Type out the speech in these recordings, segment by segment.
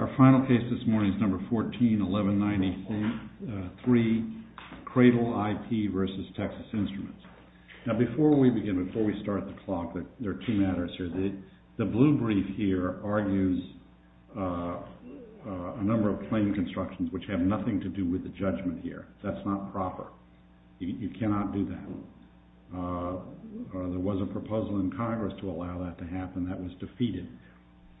Our final case this morning is No. 14-1193, Cradle IP v. Texas Instruments. Now before we begin, before we start the clock, there are two matters here. The blue brief here argues a number of claim constructions which have nothing to do with the judgment here. That's not proper. You cannot do that. There was a proposal in Congress to allow that to happen. That was defeated.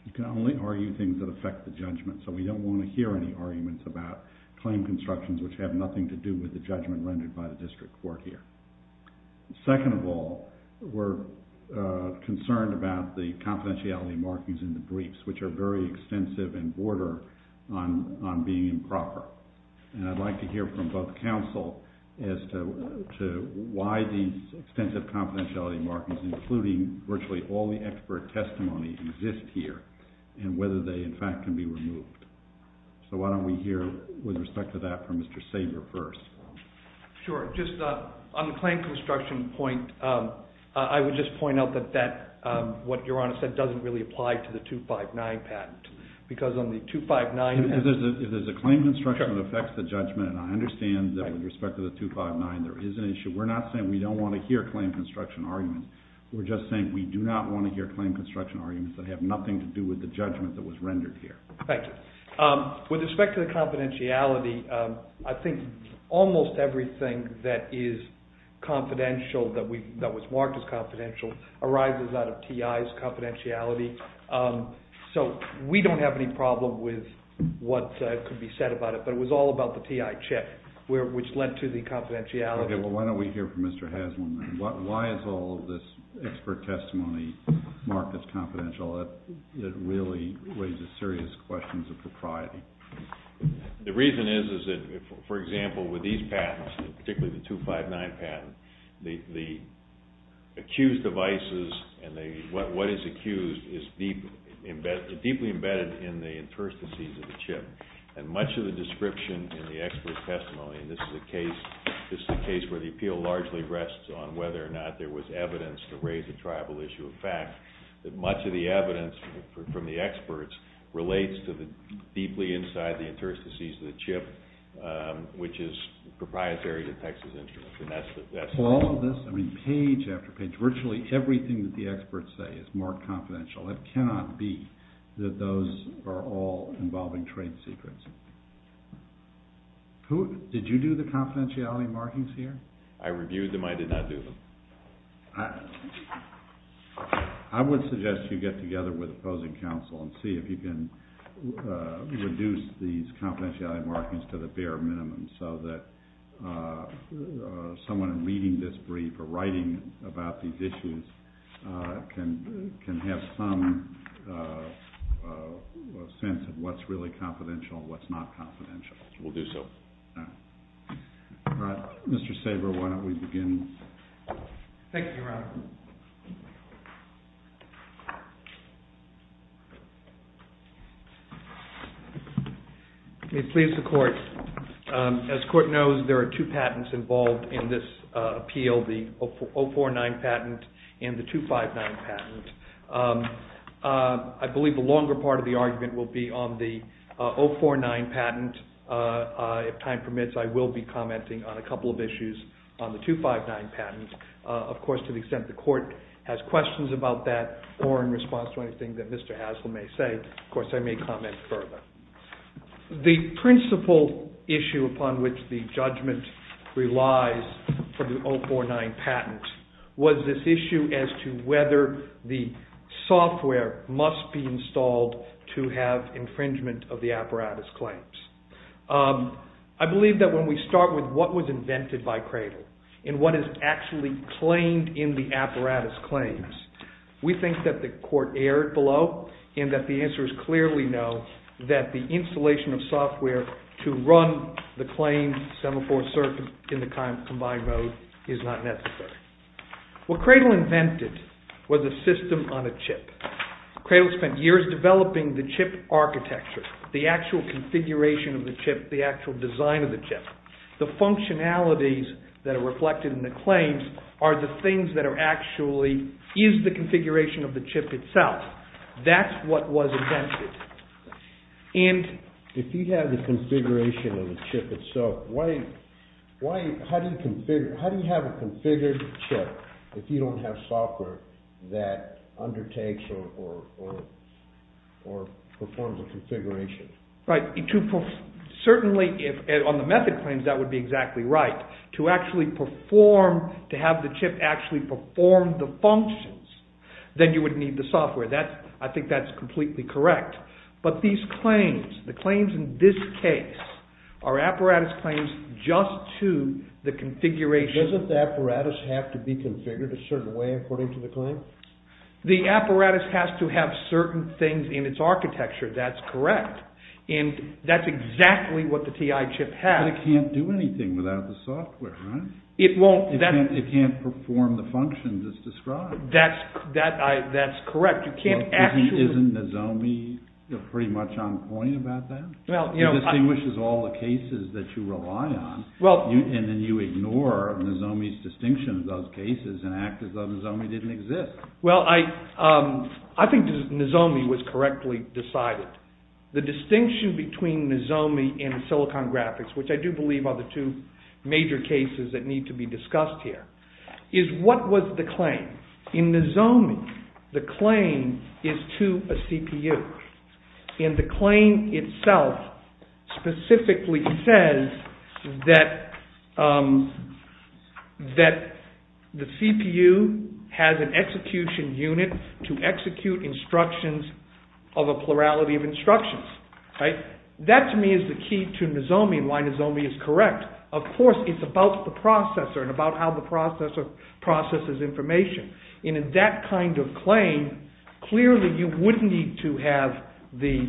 You can only argue things that affect the judgment, so we don't want to hear any arguments about claim constructions which have nothing to do with the judgment rendered by the district court here. Second of all, we're concerned about the confidentiality markings in the briefs, which are very extensive and border on being improper. And I'd like to hear from both counsel as to why these extensive confidentiality markings, including virtually all the expert testimony, exist here and whether they, in fact, can be removed. So why don't we hear with respect to that from Mr. Sabre first. Sure. Just on the claim construction point, I would just point out that what Your Honor said doesn't really apply to the 259 patent because on the 259… If there's a claim construction that affects the judgment, and I understand that with respect to the 259 there is an issue, we're not saying we don't want to hear claim construction arguments. We're just saying we do not want to hear claim construction arguments that have nothing to do with the judgment that was rendered here. Thank you. With respect to the confidentiality, I think almost everything that is confidential, that was marked as confidential, arises out of TI's confidentiality. So we don't have any problem with what could be said about it, but it was all about the TI check, which led to the confidentiality. Okay, well why don't we hear from Mr. Haslund then. Why is all of this expert testimony marked as confidential? It really raises serious questions of propriety. The reason is that, for example, with these patents, particularly the 259 patent, the accused devices and what is accused is deeply embedded in the interstices of the chip. And much of the description in the expert testimony, and this is a case where the appeal largely rests on whether or not there was evidence to raise the tribal issue of fact, that much of the evidence from the experts relates to the deeply inside the interstices of the chip, which is proprietary to Texas Instruments. For all of this, page after page, virtually everything that the experts say is marked confidential. It cannot be that those are all involving trade secrets. Did you do the confidentiality markings here? I reviewed them. I did not do them. I would suggest you get together with opposing counsel and see if you can reduce these confidentiality markings to the bare minimum so that someone reading this brief or writing about these issues can have some sense of what's really confidential and what's not confidential. We'll do so. Mr. Saber, why don't we begin? Thank you, Your Honor. May it please the Court. As the Court knows, there are two patents involved in this appeal, the 049 patent and the 259 patent. I believe the longer part of the argument will be on the 049 patent. If time permits, I will be commenting on a couple of issues on the 259 patent. Of course, to the extent the Court has questions about that or in response to anything that Mr. Haslam may say, of course I may comment further. The principal issue upon which the judgment relies for the 049 patent was this issue as to whether the software must be installed to have infringement of the apparatus claims. I believe that when we start with what was invented by Cradle and what is actually claimed in the apparatus claims, we think that the Court erred below and that the answers clearly know that the installation of software to run the claim semaphore circuit in the combined mode is not necessary. What Cradle invented was a system on a chip. Cradle spent years developing the chip architecture, the actual configuration of the chip, the actual design of the chip. The functionalities that are reflected in the claims are the things that are actually, is the configuration of the chip itself. That's what was invented. If you have the configuration of the chip itself, how do you have a configured chip if you don't have software that undertakes or performs a configuration? Certainly, on the method claims, that would be exactly right. To actually perform, to have the chip actually perform the functions, then you would need the software. I think that's completely correct. But these claims, the claims in this case, are apparatus claims just to the configuration. Doesn't the apparatus have to be configured a certain way according to the claim? The apparatus has to have certain things in its architecture, that's correct. And that's exactly what the TI chip has. But it can't do anything without the software, right? It can't perform the functions as described. That's correct. Isn't Nozomi pretty much on point about that? He distinguishes all the cases that you rely on and then you ignore Nozomi's distinction of those cases and act as though Nozomi didn't exist. Well, I think Nozomi was correctly decided. The distinction between Nozomi and Silicon Graphics, which I do believe are the two major cases that need to be discussed here, is what was the claim? In Nozomi, the claim is to a CPU. And the claim itself specifically says that the CPU has an execution unit to execute instructions of a plurality of instructions. That, to me, is the key to Nozomi and why Nozomi is correct. Of course, it's about the processor and about how the processor processes information. And in that kind of claim, clearly you wouldn't need to have the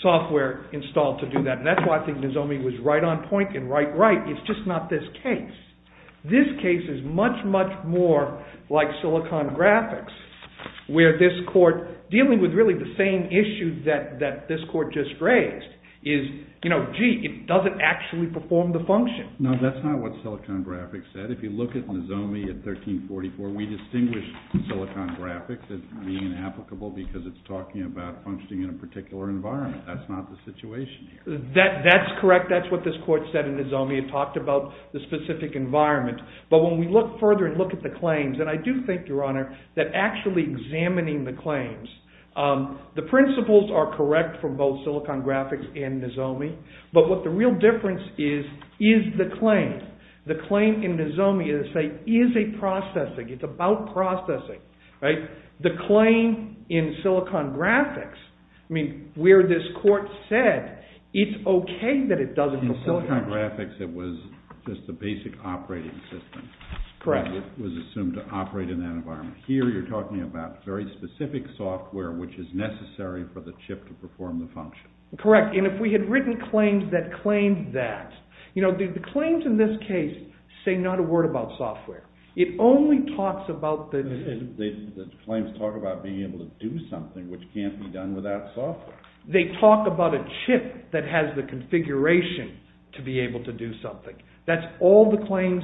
software installed to do that. And that's why I think Nozomi was right on point and right, right. It's just not this case. This case is much, much more like Silicon Graphics, where this court, dealing with really the same issue that this court just raised, is, gee, it doesn't actually perform the function. No, that's not what Silicon Graphics said. If you look at Nozomi at 1344, we distinguish Silicon Graphics as being inapplicable because it's talking about functioning in a particular environment. That's not the situation here. That's correct. That's what this court said in Nozomi. It talked about the specific environment. But when we look further and look at the claims, and I do think, Your Honor, that actually examining the claims, the principles are correct for both Silicon Graphics and Nozomi. But what the real difference is, is the claim. The claim in Nozomi is, say, easy processing. It's about processing. The claim in Silicon Graphics, where this court said, it's okay that it doesn't perform. In Silicon Graphics, it was just a basic operating system. Correct. It was assumed to operate in that environment. Here, you're talking about very specific software, which is necessary for the chip to perform the function. Correct. And if we had written claims that claimed that, you know, the claims in this case say not a word about software. It only talks about the… The claims talk about being able to do something, which can't be done without software. They talk about a chip that has the configuration to be able to do something. That's all the claims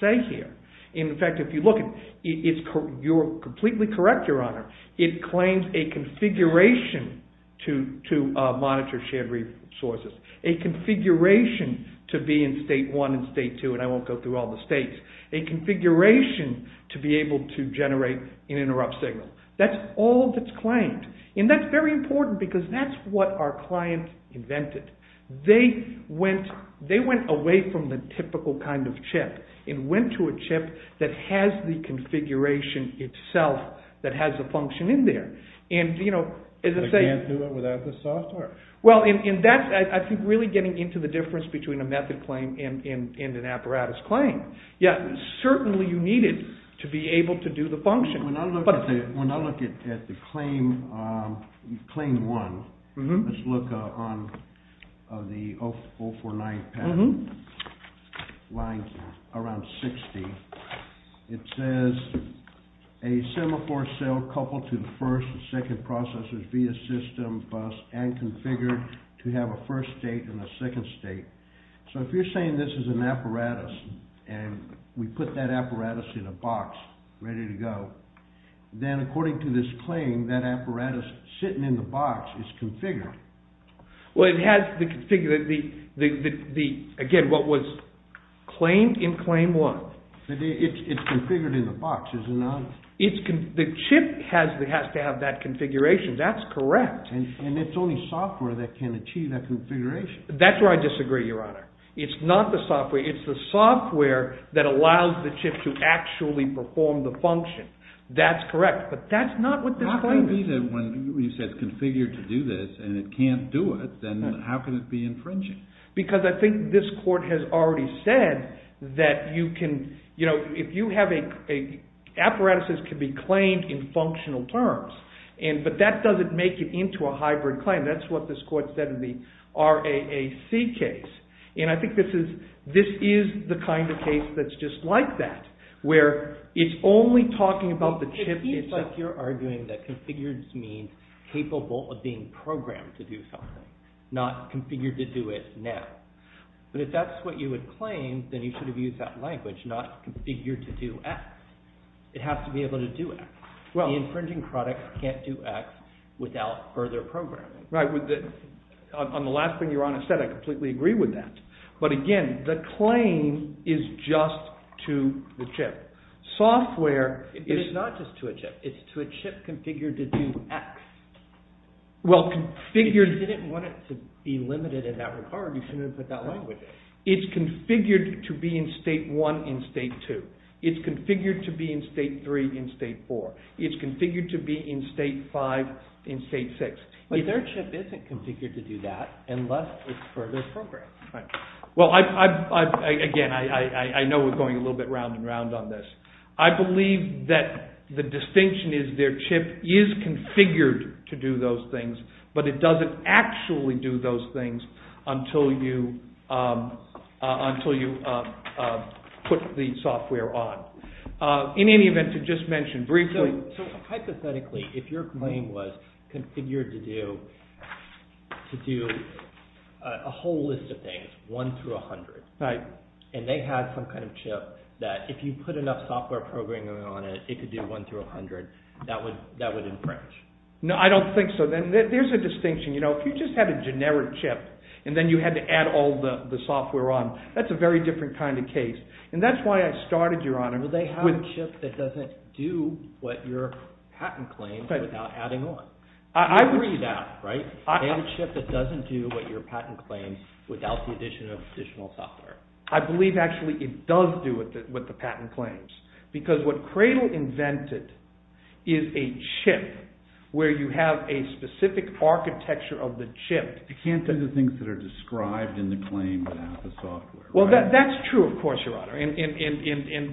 say here. In fact, if you look, you're completely correct, Your Honor. It claims a configuration to monitor shared resources, a configuration to be in state one and state two, and I won't go through all the states, a configuration to be able to generate an interrupt signal. That's all that's claimed. And that's very important because that's what our clients invented. They went away from the typical kind of chip and went to a chip that has the configuration itself, that has a function in there. And, you know… They can't do it without the software. Well, and that's, I think, really getting into the difference between a method claim and an apparatus claim. Yeah, certainly you need it to be able to do the function. When I look at the claim one, let's look on the 049 patent, lying around 60, it says a semaphore cell coupled to the first and second processors via system bus and configured to have a first state and a second state. So if you're saying this is an apparatus and we put that apparatus in a box ready to go, then according to this claim, that apparatus sitting in the box is configured. Well, it has the… Again, what was claimed in claim one. It's configured in the box, isn't it? The chip has to have that configuration. That's correct. And it's only software that can achieve that configuration. That's where I disagree, Your Honor. It's not the software. It's the software that allows the chip to actually perform the function. That's correct. But that's not what this claim is. How can it be that when you said it's configured to do this and it can't do it, then how can it be infringing? Because I think this court has already said that if you have a… Apparatuses can be claimed in functional terms, but that doesn't make it into a hybrid claim. That's what this court said in the RAAC case. And I think this is the kind of case that's just like that where it's only talking about the chip itself. It seems like you're arguing that configured means capable of being programmed to do something, not configured to do it now. But if that's what you would claim, then you should have used that language, not configured to do X. It has to be able to do X. The infringing product can't do X without further programming. Right. On the last thing Your Honor said, I completely agree with that. But again, the claim is just to the chip. Software is… It's not just to a chip. It's to a chip configured to do X. Well, configured… If you didn't want it to be limited in that regard, you shouldn't have put that language in. It's configured to be in state 1 in state 2. It's configured to be in state 3 in state 4. It's configured to be in state 5 in state 6. But their chip isn't configured to do that unless it's further programmed. Right. Well, again, I know we're going a little bit round and round on this. I believe that the distinction is their chip is configured to do those things, but it doesn't actually do those things until you put the software on. In any event, to just mention briefly… So, hypothetically, if your claim was configured to do a whole list of things, 1 through 100, and they had some kind of chip that if you put enough software programming on it, it could do 1 through 100, that would infringe? No, I don't think so. There's a distinction. If you just had a generic chip, and then you had to add all the software on, that's a very different kind of case. And that's why I started, Your Honor… But they have a chip that doesn't do what your patent claims without adding on. I would… You agree with that, right? They have a chip that doesn't do what your patent claims without the addition of additional software. I believe, actually, it does do what the patent claims because what Cradle invented is a chip where you have a specific architecture of the chip. You can't do the things that are described in the claim without the software. Well, that's true, of course, Your Honor. And,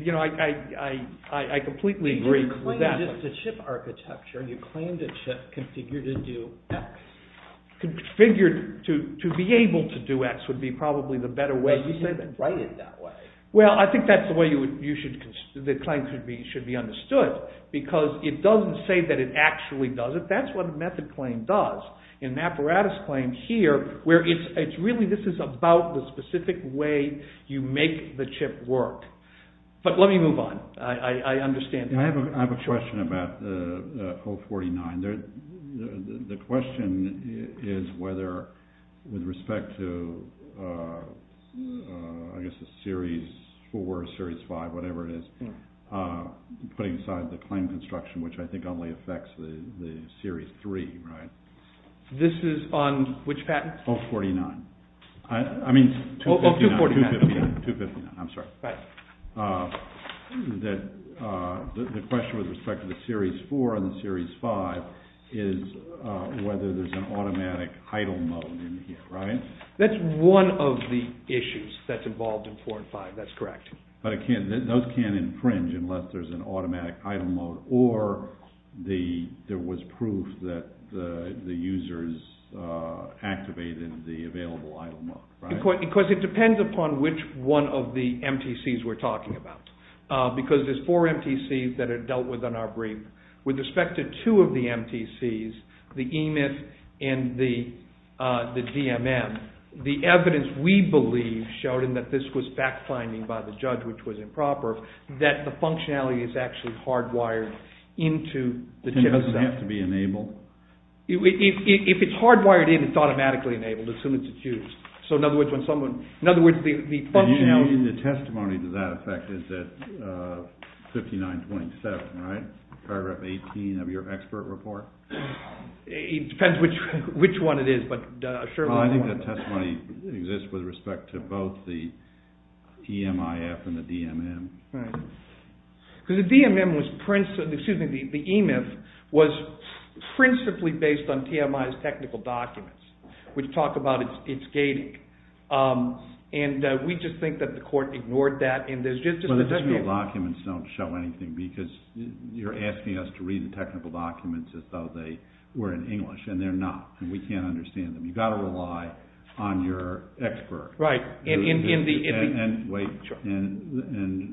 you know, I completely agree with that. You claimed just a chip architecture. You claimed a chip configured to do X. Configured to be able to do X would be probably the better way to say that. But you didn't write it that way. Well, I think that's the way you should… The claim should be understood because it doesn't say that it actually does it. That's what a method claim does. In an apparatus claim here where it's really… This is about the specific way you make the chip work. But let me move on. I understand… I have a question about 049. The question is whether, with respect to, I guess, the Series 4, Series 5, whatever it is, putting aside the claim construction, which I think only affects the Series 3, right? This is on which patent? 049. I mean 259. I'm sorry. Right. The question with respect to the Series 4 and the Series 5 is whether there's an automatic idle mode in here, right? That's one of the issues that's involved in 4 and 5. That's correct. But those can't infringe unless there's an automatic idle mode or there was proof that the users activated the available idle mode, right? Because it depends upon which one of the MTCs we're talking about. Because there's four MTCs that are dealt with in our brief. With respect to two of the MTCs, the EMIF and the DMM, the evidence we believe, Sheldon, that this was fact-finding by the judge, which was improper, that the functionality is actually hardwired into the chip itself. Does it have to be enabled? If it's hardwired in, it's automatically enabled as soon as it's used. So, in other words, when someone… In other words, the functionality… The testimony to that effect is at 5927, right? Paragraph 18 of your expert report? It depends which one it is, but sure. I think the testimony exists with respect to both the TMIF and the DMM. Right. Because the EMIF was principally based on TMI's technical documents, which talk about its gating. And we just think that the court ignored that. Well, the technical documents don't show anything because you're asking us to read the technical documents as though they were in English, and they're not, and we can't understand them. You've got to rely on your expert. Right. And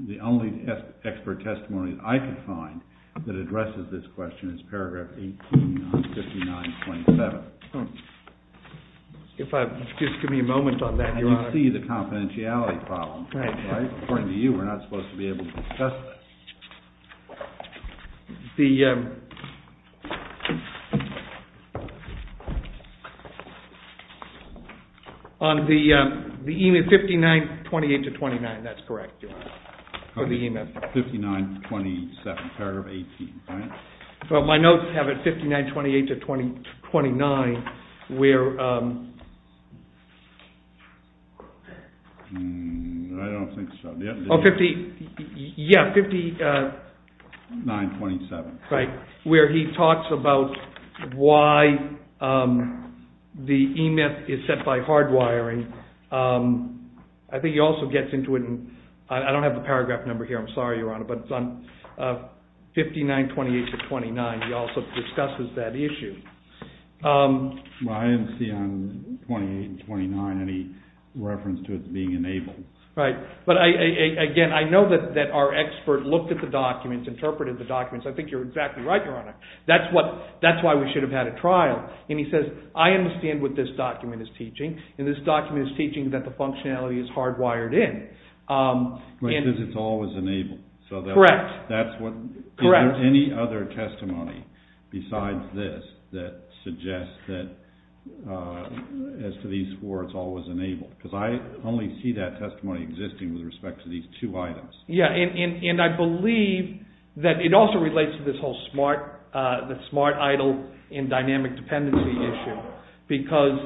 the only expert testimony that I could find that addresses this question is paragraph 18 on 5927. Just give me a moment on that, Your Honor. You see the confidentiality problem, right? According to you, we're not supposed to be able to discuss this. On the EMIF, 5928 to 29, that's correct, Your Honor, for the EMIF. 5927, paragraph 18, right? Well, my notes have it 5928 to 29, where... I don't think so. Yeah, 5927. Right, where he talks about why the EMIF is set by hardwiring. I think he also gets into it, and I don't have the paragraph number here. I'm sorry, Your Honor, but it's on 5928 to 29. He also discusses that issue. Well, I didn't see on 28 and 29 any reference to it being enabled. Right, but again, I know that our expert looked at the documents, interpreted the documents. I think you're exactly right, Your Honor. That's why we should have had a trial, and he says, I understand what this document is teaching, and this document is teaching that the functionality is hardwired in. Because it's always enabled. Correct. Is there any other testimony besides this that suggests that as to these four, it's always enabled? Because I only see that testimony existing with respect to these two items. Yeah, and I believe that it also relates to this whole smart idle and dynamic dependency issue, because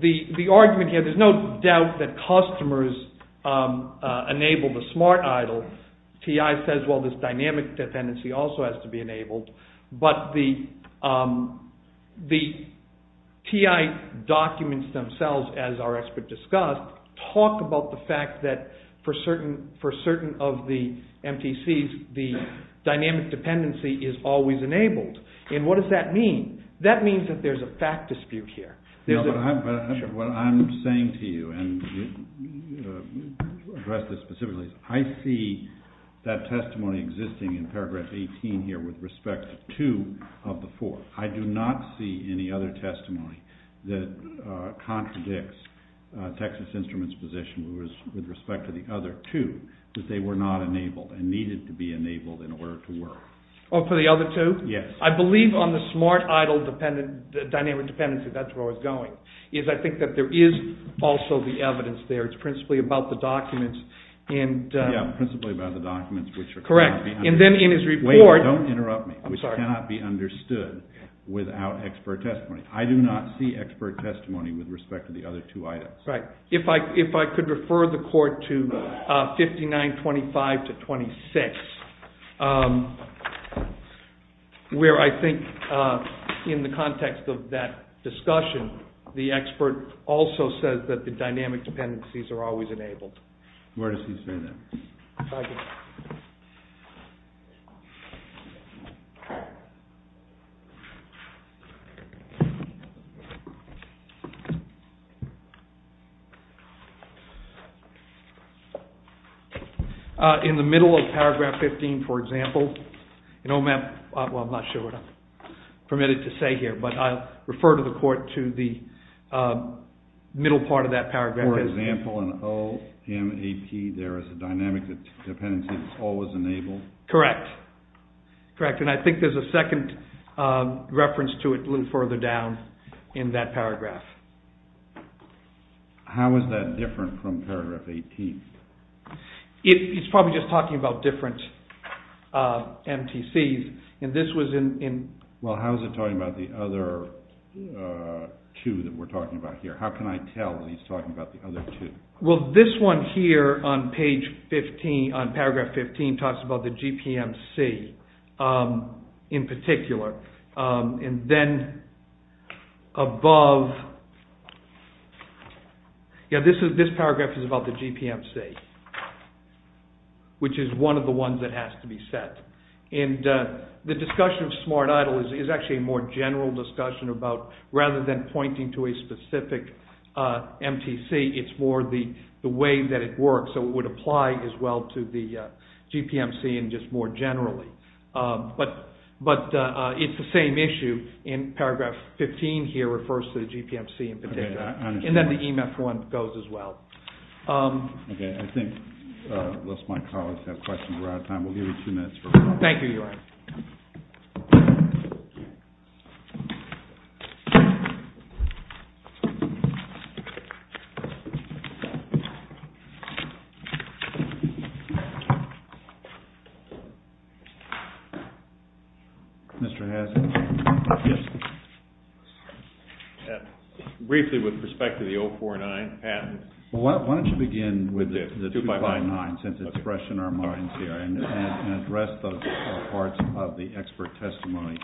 the argument here, there's no doubt that customers enable the smart idle. TI says, well, this dynamic dependency also has to be enabled. But the TI documents themselves, as our expert discussed, talk about the fact that for certain of the MTCs, the dynamic dependency is always enabled. And what does that mean? That means that there's a fact dispute here. What I'm saying to you, and to address this specifically, I see that testimony existing in paragraph 18 here with respect to two of the four. I do not see any other testimony that contradicts Texas Instruments' position with respect to the other two, that they were not enabled and needed to be enabled in order to work. Oh, for the other two? Yes. I believe on the smart idle dynamic dependency, that's where I was going, is I think that there is also the evidence there. It's principally about the documents. Yeah, principally about the documents, which cannot be understood. Correct. And then in his report— Wait, don't interrupt me. I'm sorry. Which cannot be understood without expert testimony. I do not see expert testimony with respect to the other two items. Right. If I could refer the court to 5925-26, where I think in the context of that discussion, the expert also says that the dynamic dependencies are always enabled. Where does he say that? Thank you. In the middle of paragraph 15, for example, in OMAP—well, I'm not sure what I'm permitted to say here, but I'll refer the court to the middle part of that paragraph. For example, in OMAP, there is a dynamic dependency that's always enabled. Correct. Correct. And I think there's a second reference to it a little further down in that paragraph. How is that different from paragraph 18? He's probably just talking about different MTCs, and this was in— Well, how is it talking about the other two that we're talking about here? How can I tell that he's talking about the other two? Well, this one here on paragraph 15 talks about the GPMC in particular. And then above—this paragraph is about the GPMC, which is one of the ones that has to be set. And the discussion of SmartIDLE is actually a more general discussion about, rather than pointing to a specific MTC, it's more the way that it works, so it would apply as well to the GPMC and just more generally. But it's the same issue in paragraph 15 here refers to the GPMC in particular. Okay, I understand. And then the EMF one goes as well. Okay, I think most of my colleagues have questions. We're out of time. We'll give you two minutes. Thank you, Your Honor. Mr. Haslund? Yes. Briefly with respect to the 049, Pat. Why don't you begin with the 259 since it's fresh in our minds here and address the parts of the expert testimony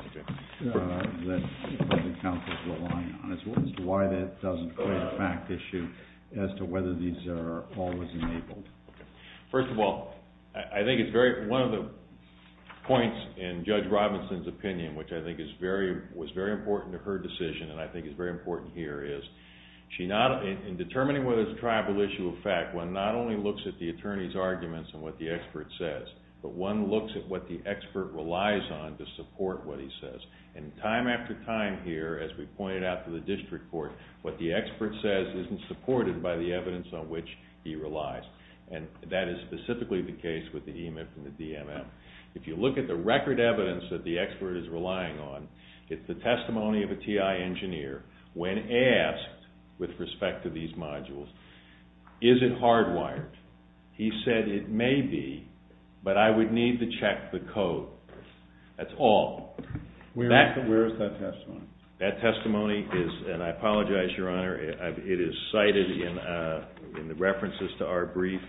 that the counsel is relying on as to why that doesn't play the fact issue as to whether these are always enabled. First of all, I think one of the points in Judge Robinson's opinion, which I think was very important to her decision and I think is very important here is, in determining whether it's a tribal issue or fact, one not only looks at the attorney's arguments and what the expert says, but one looks at what the expert relies on to support what he says. And time after time here, as we pointed out to the district court, what the expert says isn't supported by the evidence on which he relies. And that is specifically the case with the EMIP and the DMM. If you look at the record evidence that the expert is relying on, it's the testimony of a TI engineer when asked with respect to these modules, is it hardwired? He said it may be, but I would need to check the code. That's all. Where is that testimony? That testimony is, and I apologize, Your Honor, it is cited in the references to our brief.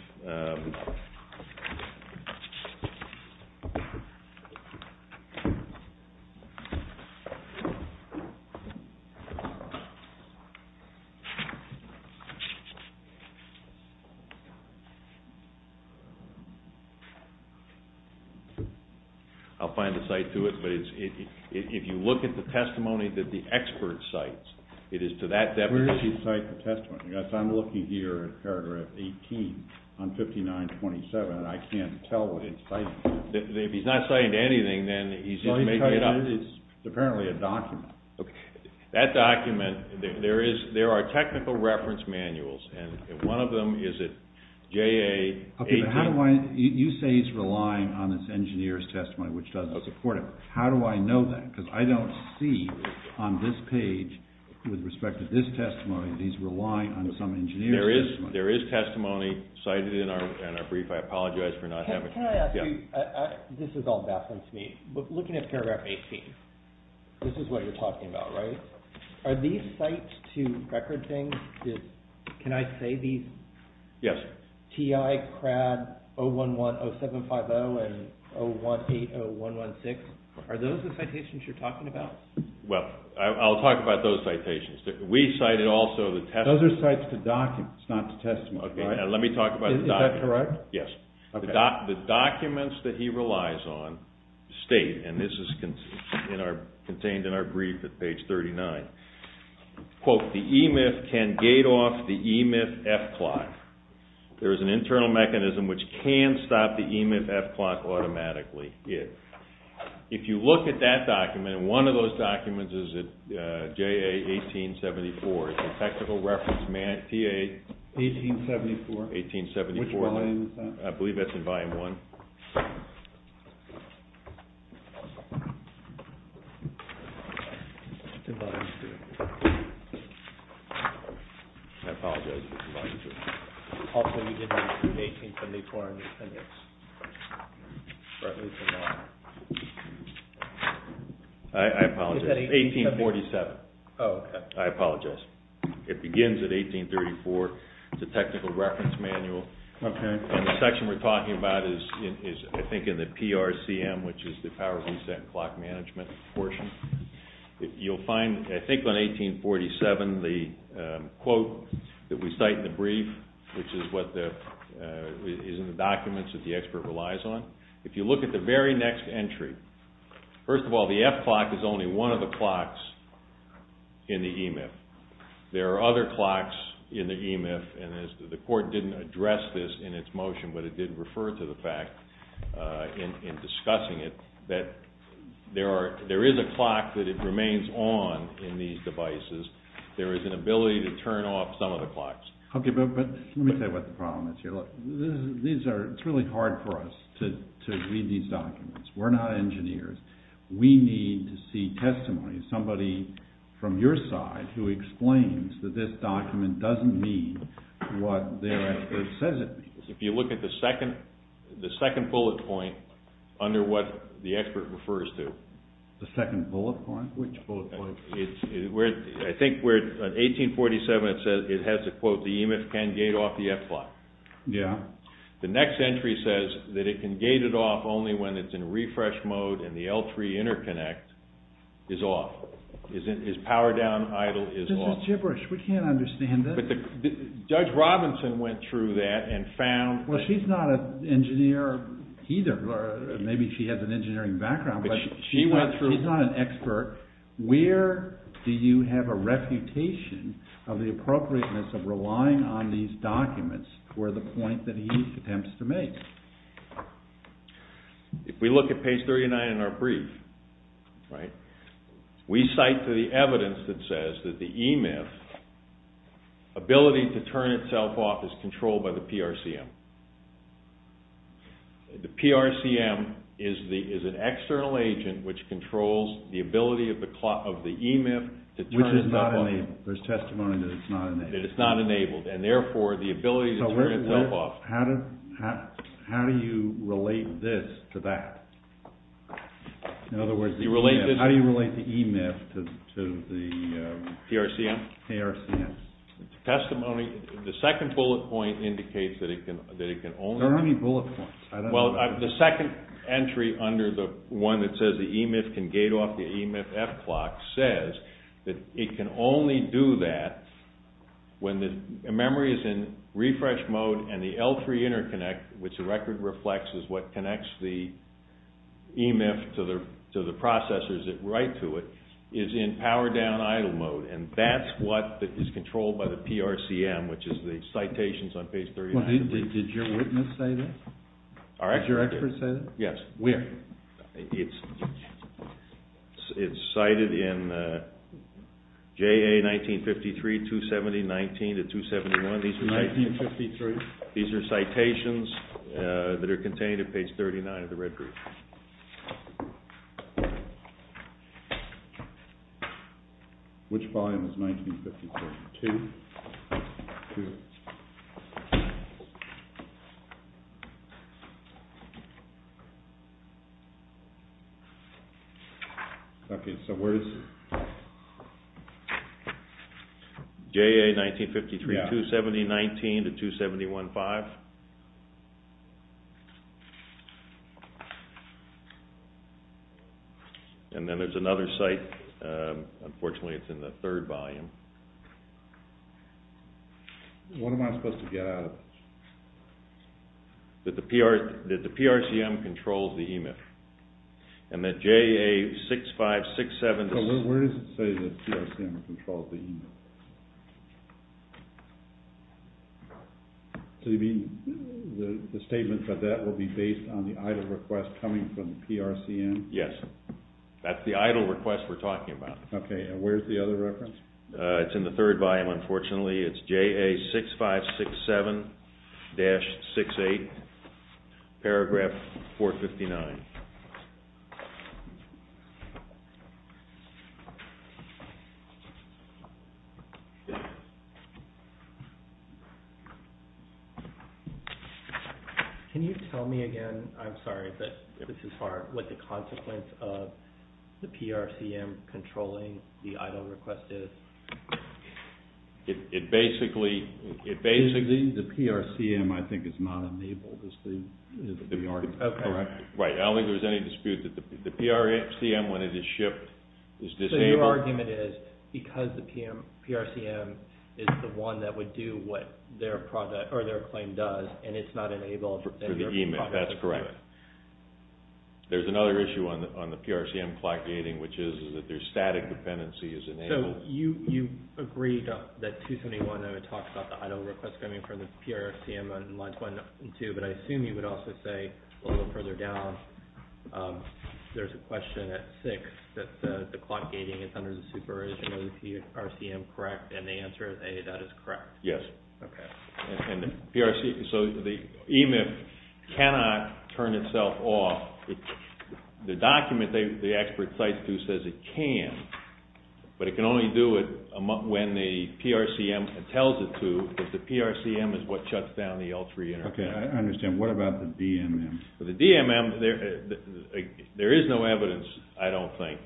I'll find a site to it. But if you look at the testimony that the expert cites, it is to that depth. Where is he citing the testimony? I'm looking here at paragraph 18 on 5927 and I can't tell what it's citing. If he's not citing anything, then he's making it up. It's apparently a document. That document, there are technical reference manuals, and one of them is at JA 18. You say he's relying on this engineer's testimony, which doesn't support it. How do I know that? Because I don't see on this page, with respect to this testimony, that he's relying on some engineer's testimony. There is testimony cited in our brief. I apologize for not having it. Can I ask you, this is all baffling to me, but looking at paragraph 18, this is what you're talking about, right? Are these sites to record things? Can I say these? Yes. Are those the citations you're talking about? Well, I'll talk about those citations. We cited also the testimony. Those are sites to documents, not to testimony. Let me talk about the documents. Is that correct? Yes. The documents that he relies on state, and this is contained in our brief at page 39, quote, the E-MIF can gate off the E-MIF F-Clock. There is an internal mechanism which can stop the E-MIF F-Clock automatically. If you look at that document, and one of those documents is at JA 1874. It's a technical reference, TA 1874. 1874. Which volume is that? I believe that's in volume one. It's in volume two. I apologize. It's in volume two. Also, you did not put 1874 in the appendix. I apologize. It's 1847. Oh, okay. I apologize. It begins at 1834. It's a technical reference manual. Okay. The section we're talking about is, I think, in the PRCM, which is the power reset and clock management portion. You'll find, I think, on 1847, the quote that we cite in the brief, which is in the documents that the expert relies on. If you look at the very next entry, first of all, the F-Clock is only one of the clocks in the E-MIF. There are other clocks in the E-MIF, and the court didn't address this in its motion, but it did refer to the fact in discussing it, that there is a clock that it remains on in these devices. There is an ability to turn off some of the clocks. Okay, but let me tell you what the problem is here. It's really hard for us to read these documents. We're not engineers. We need to see testimony, somebody from your side, who explains that this document doesn't mean what their expert says it means. If you look at the second bullet point, under what the expert refers to. The second bullet point? Which bullet point? I think where, on 1847, it says, it has the quote, the E-MIF can gate off the F-Clock. Yeah. The next entry says that it can gate it off only when it's in refresh mode and the L3 interconnect is off. Is power down, idle, is off. This is gibberish. We can't understand this. Judge Robinson went through that and found... Well, she's not an engineer either. Maybe she has an engineering background, but she's not an expert. Where do you have a reputation of the appropriateness of relying on these documents for the point that he attempts to make? If we look at page 39 in our brief, right, we cite to the evidence that says that the E-MIF, ability to turn itself off, is controlled by the PRCM. The PRCM is an external agent which controls the ability of the E-MIF to turn itself off. Which is not enabled. There's testimony that it's not enabled. That it's not enabled, and therefore, the ability to turn itself off... How do you relate this to that? In other words, the E-MIF... How do you relate the E-MIF to the... PRCM? PRCM. It's a testimony. The second bullet point indicates that it can only... There are many bullet points. Well, the second entry under the one that says the E-MIF can gate off the E-MIF F-Clock says that it can only do that when the memory is in refresh mode and the L3 interconnect, which the record reflects, is what connects the E-MIF to the processors that write to it, is in power down idle mode. And that's what is controlled by the PRCM, which is the citations on page 39. Did your witness say that? Did your expert say that? Yes. Where? It's cited in JA 1953, 270, 19, and 271. These are citations that are contained in page 39 of the red group. Which volume is 1953? Two? Two. Okay, so where is it? JA 1953, 270, 19 to 271, 5. And then there's another cite, unfortunately it's in the third volume. What am I supposed to get out of it? That the PRCM controls the E-MIF. And that JA 6567... Where does it say the PRCM controls the E-MIF? The statement that that will be based on the idle request coming from the PRCM? Yes, that's the idle request we're talking about. Okay, and where's the other reference? It's in the third volume, unfortunately. It's JA 6567-68, paragraph 459. Can you tell me again, I'm sorry, but this is what the consequence of the PRCM controlling the idle request is? It basically... The PRCM, I think, is not enabled, is the argument. Okay. Right, I don't think there's any dispute that the PRCM, when it is shipped, is disabled. So your argument is, because the PRCM is the one that would do what their claim does, and it's not enabled... For the E-MIF, that's correct. There's another issue on the PRCM clock gating, which is that their static dependency is enabled. So you agree that 271, I would talk about the idle request coming from the PRCM on lines one and two, but I assume you would also say, a little further down, there's a question at six that the clock gating is under the supervision of the PRCM, correct? And the answer is A, that is correct. Yes. Okay. And the PRC... So the E-MIF cannot turn itself off. The document the expert cites to says it can, but it can only do it when the PRCM tells it to, because the PRCM is what shuts down the L3 interface. Okay, I understand. What about the DMM? The DMM, there is no evidence, I don't think,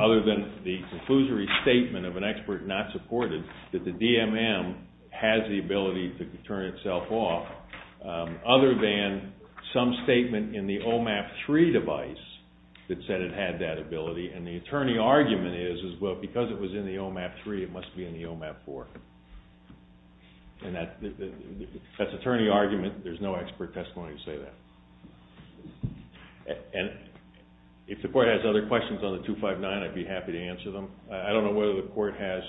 other than the conclusory statement of an expert not supported, that the DMM has the ability to turn itself off, other than some statement in the OMAP3 device that said it had that ability, and the attorney argument is, well, because it was in the OMAP3, it must be in the OMAP4. And that's attorney argument. There's no expert testimony to say that. And if the court has other questions on the 259, I'd be happy to answer them. I don't know whether the court has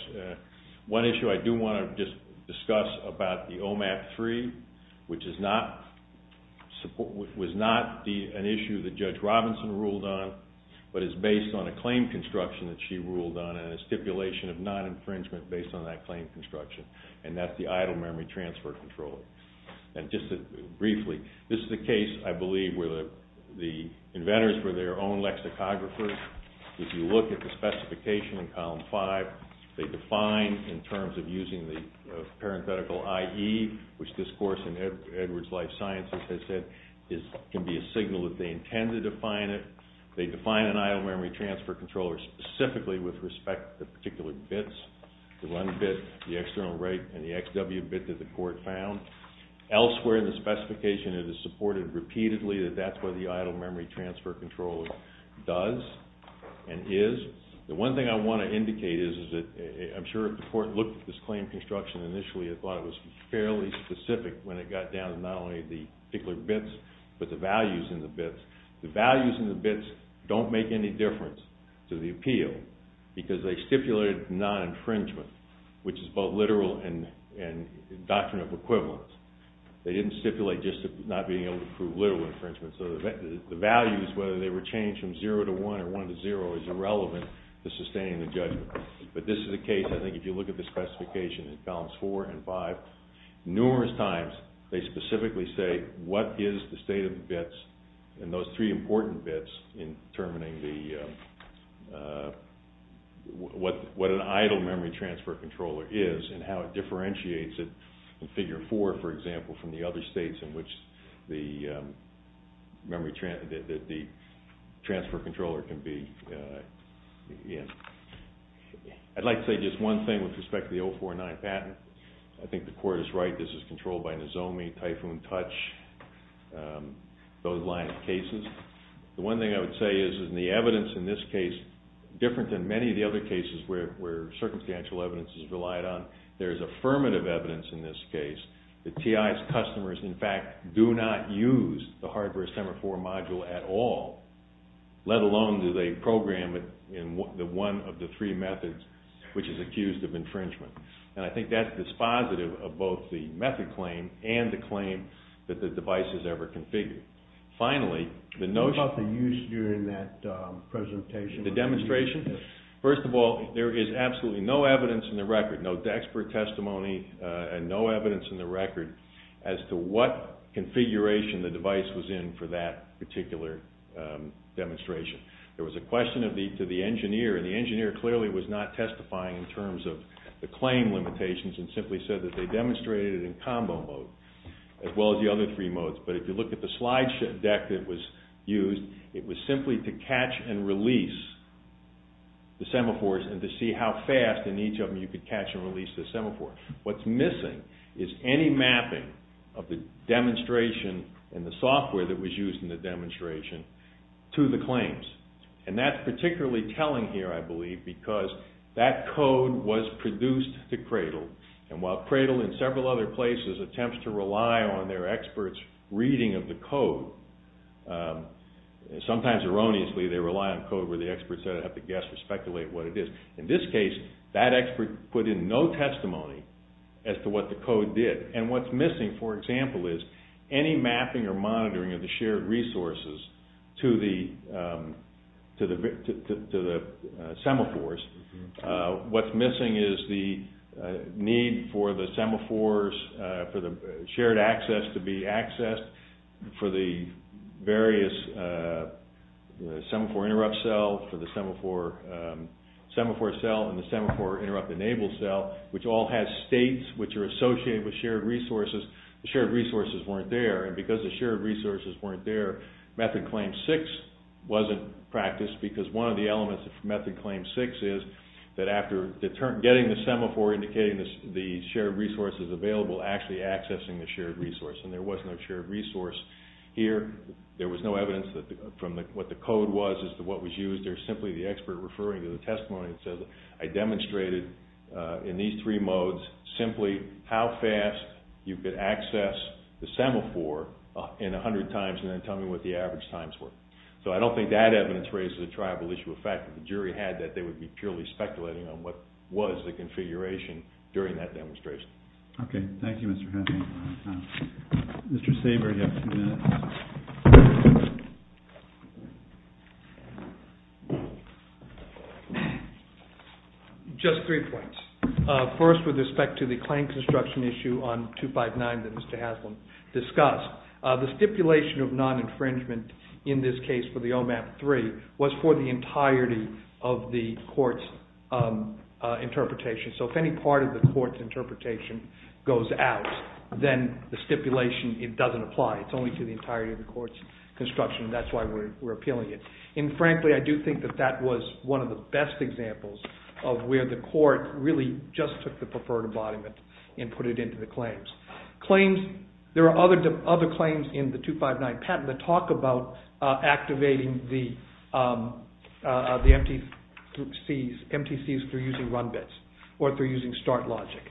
one issue. I do want to just discuss about the OMAP3, which was not an issue that Judge Robinson ruled on, but is based on a claim construction that she ruled on and a stipulation of non-infringement based on that claim construction, and that's the idle memory transfer control. And just briefly, this is a case, I believe, where the inventors were their own lexicographers. If you look at the specification in Column 5, they define in terms of using the parenthetical IE, which this course in Edwards Life Sciences has said can be a signal that they intend to define it. They define an idle memory transfer controller specifically with respect to particular bits, the one bit, the external rate, and the XW bit that the court found. Elsewhere in the specification, it is supported repeatedly that that's what the idle memory transfer controller does and is. The one thing I want to indicate is that I'm sure if the court looked at this claim construction initially, it thought it was fairly specific when it got down to not only the particular bits, but the values in the bits. The values in the bits don't make any difference to the appeal because they stipulated non-infringement, which is both literal and doctrinal equivalence. They didn't stipulate just not being able to prove literal infringement. So the values, whether they were changed from 0 to 1 or 1 to 0, is irrelevant to sustaining the judgment. But this is a case, I think, if you look at the specification in Columns 4 and 5, numerous times they specifically say what is the state of the bits and those three important bits in determining what an idle memory transfer controller is and how it differentiates it in Figure 4, for example, from the other states in which the transfer controller can be in. I'd like to say just one thing with respect to the 049 patent. I think the court is right. This is controlled by Nozomi, Typhoon Touch, those line of cases. The one thing I would say is in the evidence in this case, different than many of the other cases where circumstantial evidence is relied on, there is affirmative evidence in this case that Ty's customers, in fact, do not use the hardware semaphore module at all, let alone do they program it in one of the three methods which is accused of infringement. And I think that's dispositive of both the method claim and the claim that the device is ever configured. Finally, the notion... What about the use during that presentation? The demonstration? First of all, there is absolutely no evidence in the record, no expert testimony and no evidence in the record as to what configuration the device was in for that particular demonstration. There was a question to the engineer, and the engineer clearly was not testifying in terms of the claim limitations and simply said that they demonstrated it in combo mode as well as the other three modes. But if you look at the slide deck that was used, it was simply to catch and release the semaphores and to see how fast in each of them you could catch and release the semaphore. What's missing is any mapping of the demonstration and the software that was used in the demonstration to the claims. And that's particularly telling here, I believe, because that code was produced to Cradle, and while Cradle in several other places attempts to rely on their experts' reading of the code, sometimes erroneously they rely on code where the experts have to guess or speculate what it is. In this case, that expert put in no testimony as to what the code did. And what's missing, for example, is any mapping or monitoring of the shared resources to the semaphores. What's missing is the need for the semaphores, for the shared access to be accessed for the various semaphore interrupt cell, for the semaphore cell and the semaphore interrupt enable cell, which all have states which are associated with shared resources. The shared resources weren't there, and because the shared resources weren't there, Method Claim 6 wasn't practiced because one of the elements of Method Claim 6 is that after getting the semaphore, indicating the shared resources available, actually accessing the shared resource, and there was no shared resource here. There was no evidence from what the code was as to what was used. There's simply the expert referring to the testimony that says I demonstrated in these three modes simply how fast you could access the semaphore in 100 times and then tell me what the average times were. So I don't think that evidence raises a tribal issue. In fact, if the jury had that, they would be purely speculating on what was the configuration during that demonstration. Okay. Thank you, Mr. Haslam. Mr. Saber, you have two minutes. Just three points. First, with respect to the claim construction issue on 259 that Mr. Haslam discussed, the stipulation of non-infringement in this case for the OMAP 3 was for the entirety of the court's interpretation. So if any part of the court's interpretation goes out, then the stipulation, it doesn't apply. It's only to the entirety of the court's construction. That's why we're appealing it. And frankly, I do think that that was one of the best examples of where the court really just took the preferred embodiment and put it into the claims. There are other claims in the 259 patent that talk about activating the MTCs through using run bits or through using start logic.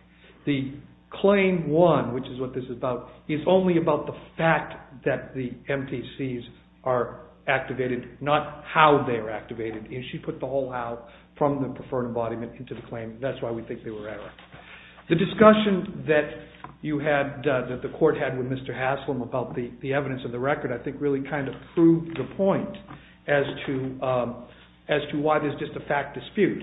The claim 1, which is what this is about, is only about the fact that the MTCs are activated, not how they are activated. She put the whole how from the preferred embodiment into the claim. That's why we think they were error. The discussion that the court had with Mr. Haslam about the evidence of the record I think really kind of proved the point as to why there's just a fact dispute.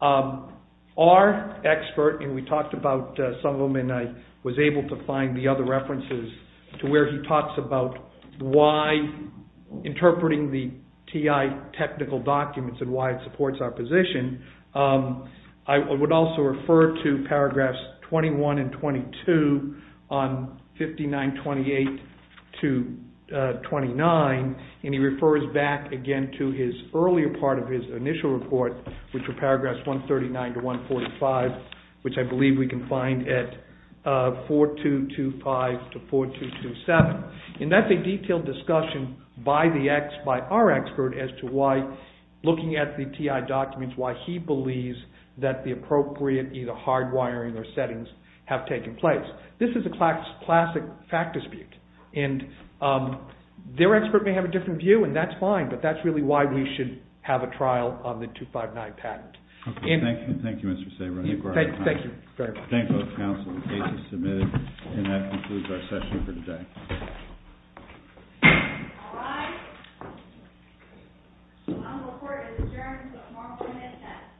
Our expert, and we talked about some of them, and I was able to find the other references to where he talks about why interpreting the TI technical documents and why it supports our position, I would also refer to paragraphs 21 and 22 on 5928 to 29, and he refers back again to his earlier part of his initial report, which were paragraphs 139 to 145, which I believe we can find at 4225 to 4227. And that's a detailed discussion by our expert as to why looking at the TI documents, why he believes that the appropriate either hardwiring or settings have taken place. This is a classic fact dispute, and their expert may have a different view, and that's fine, but that's really why we should have a trial on the 259 patent. Thank you, Mr. Sabra. Thank you very much. Thank both counsel. The case is submitted, and that concludes our session for today. The final report is adjourned until tomorrow morning at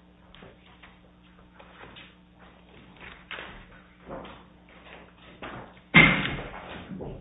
10.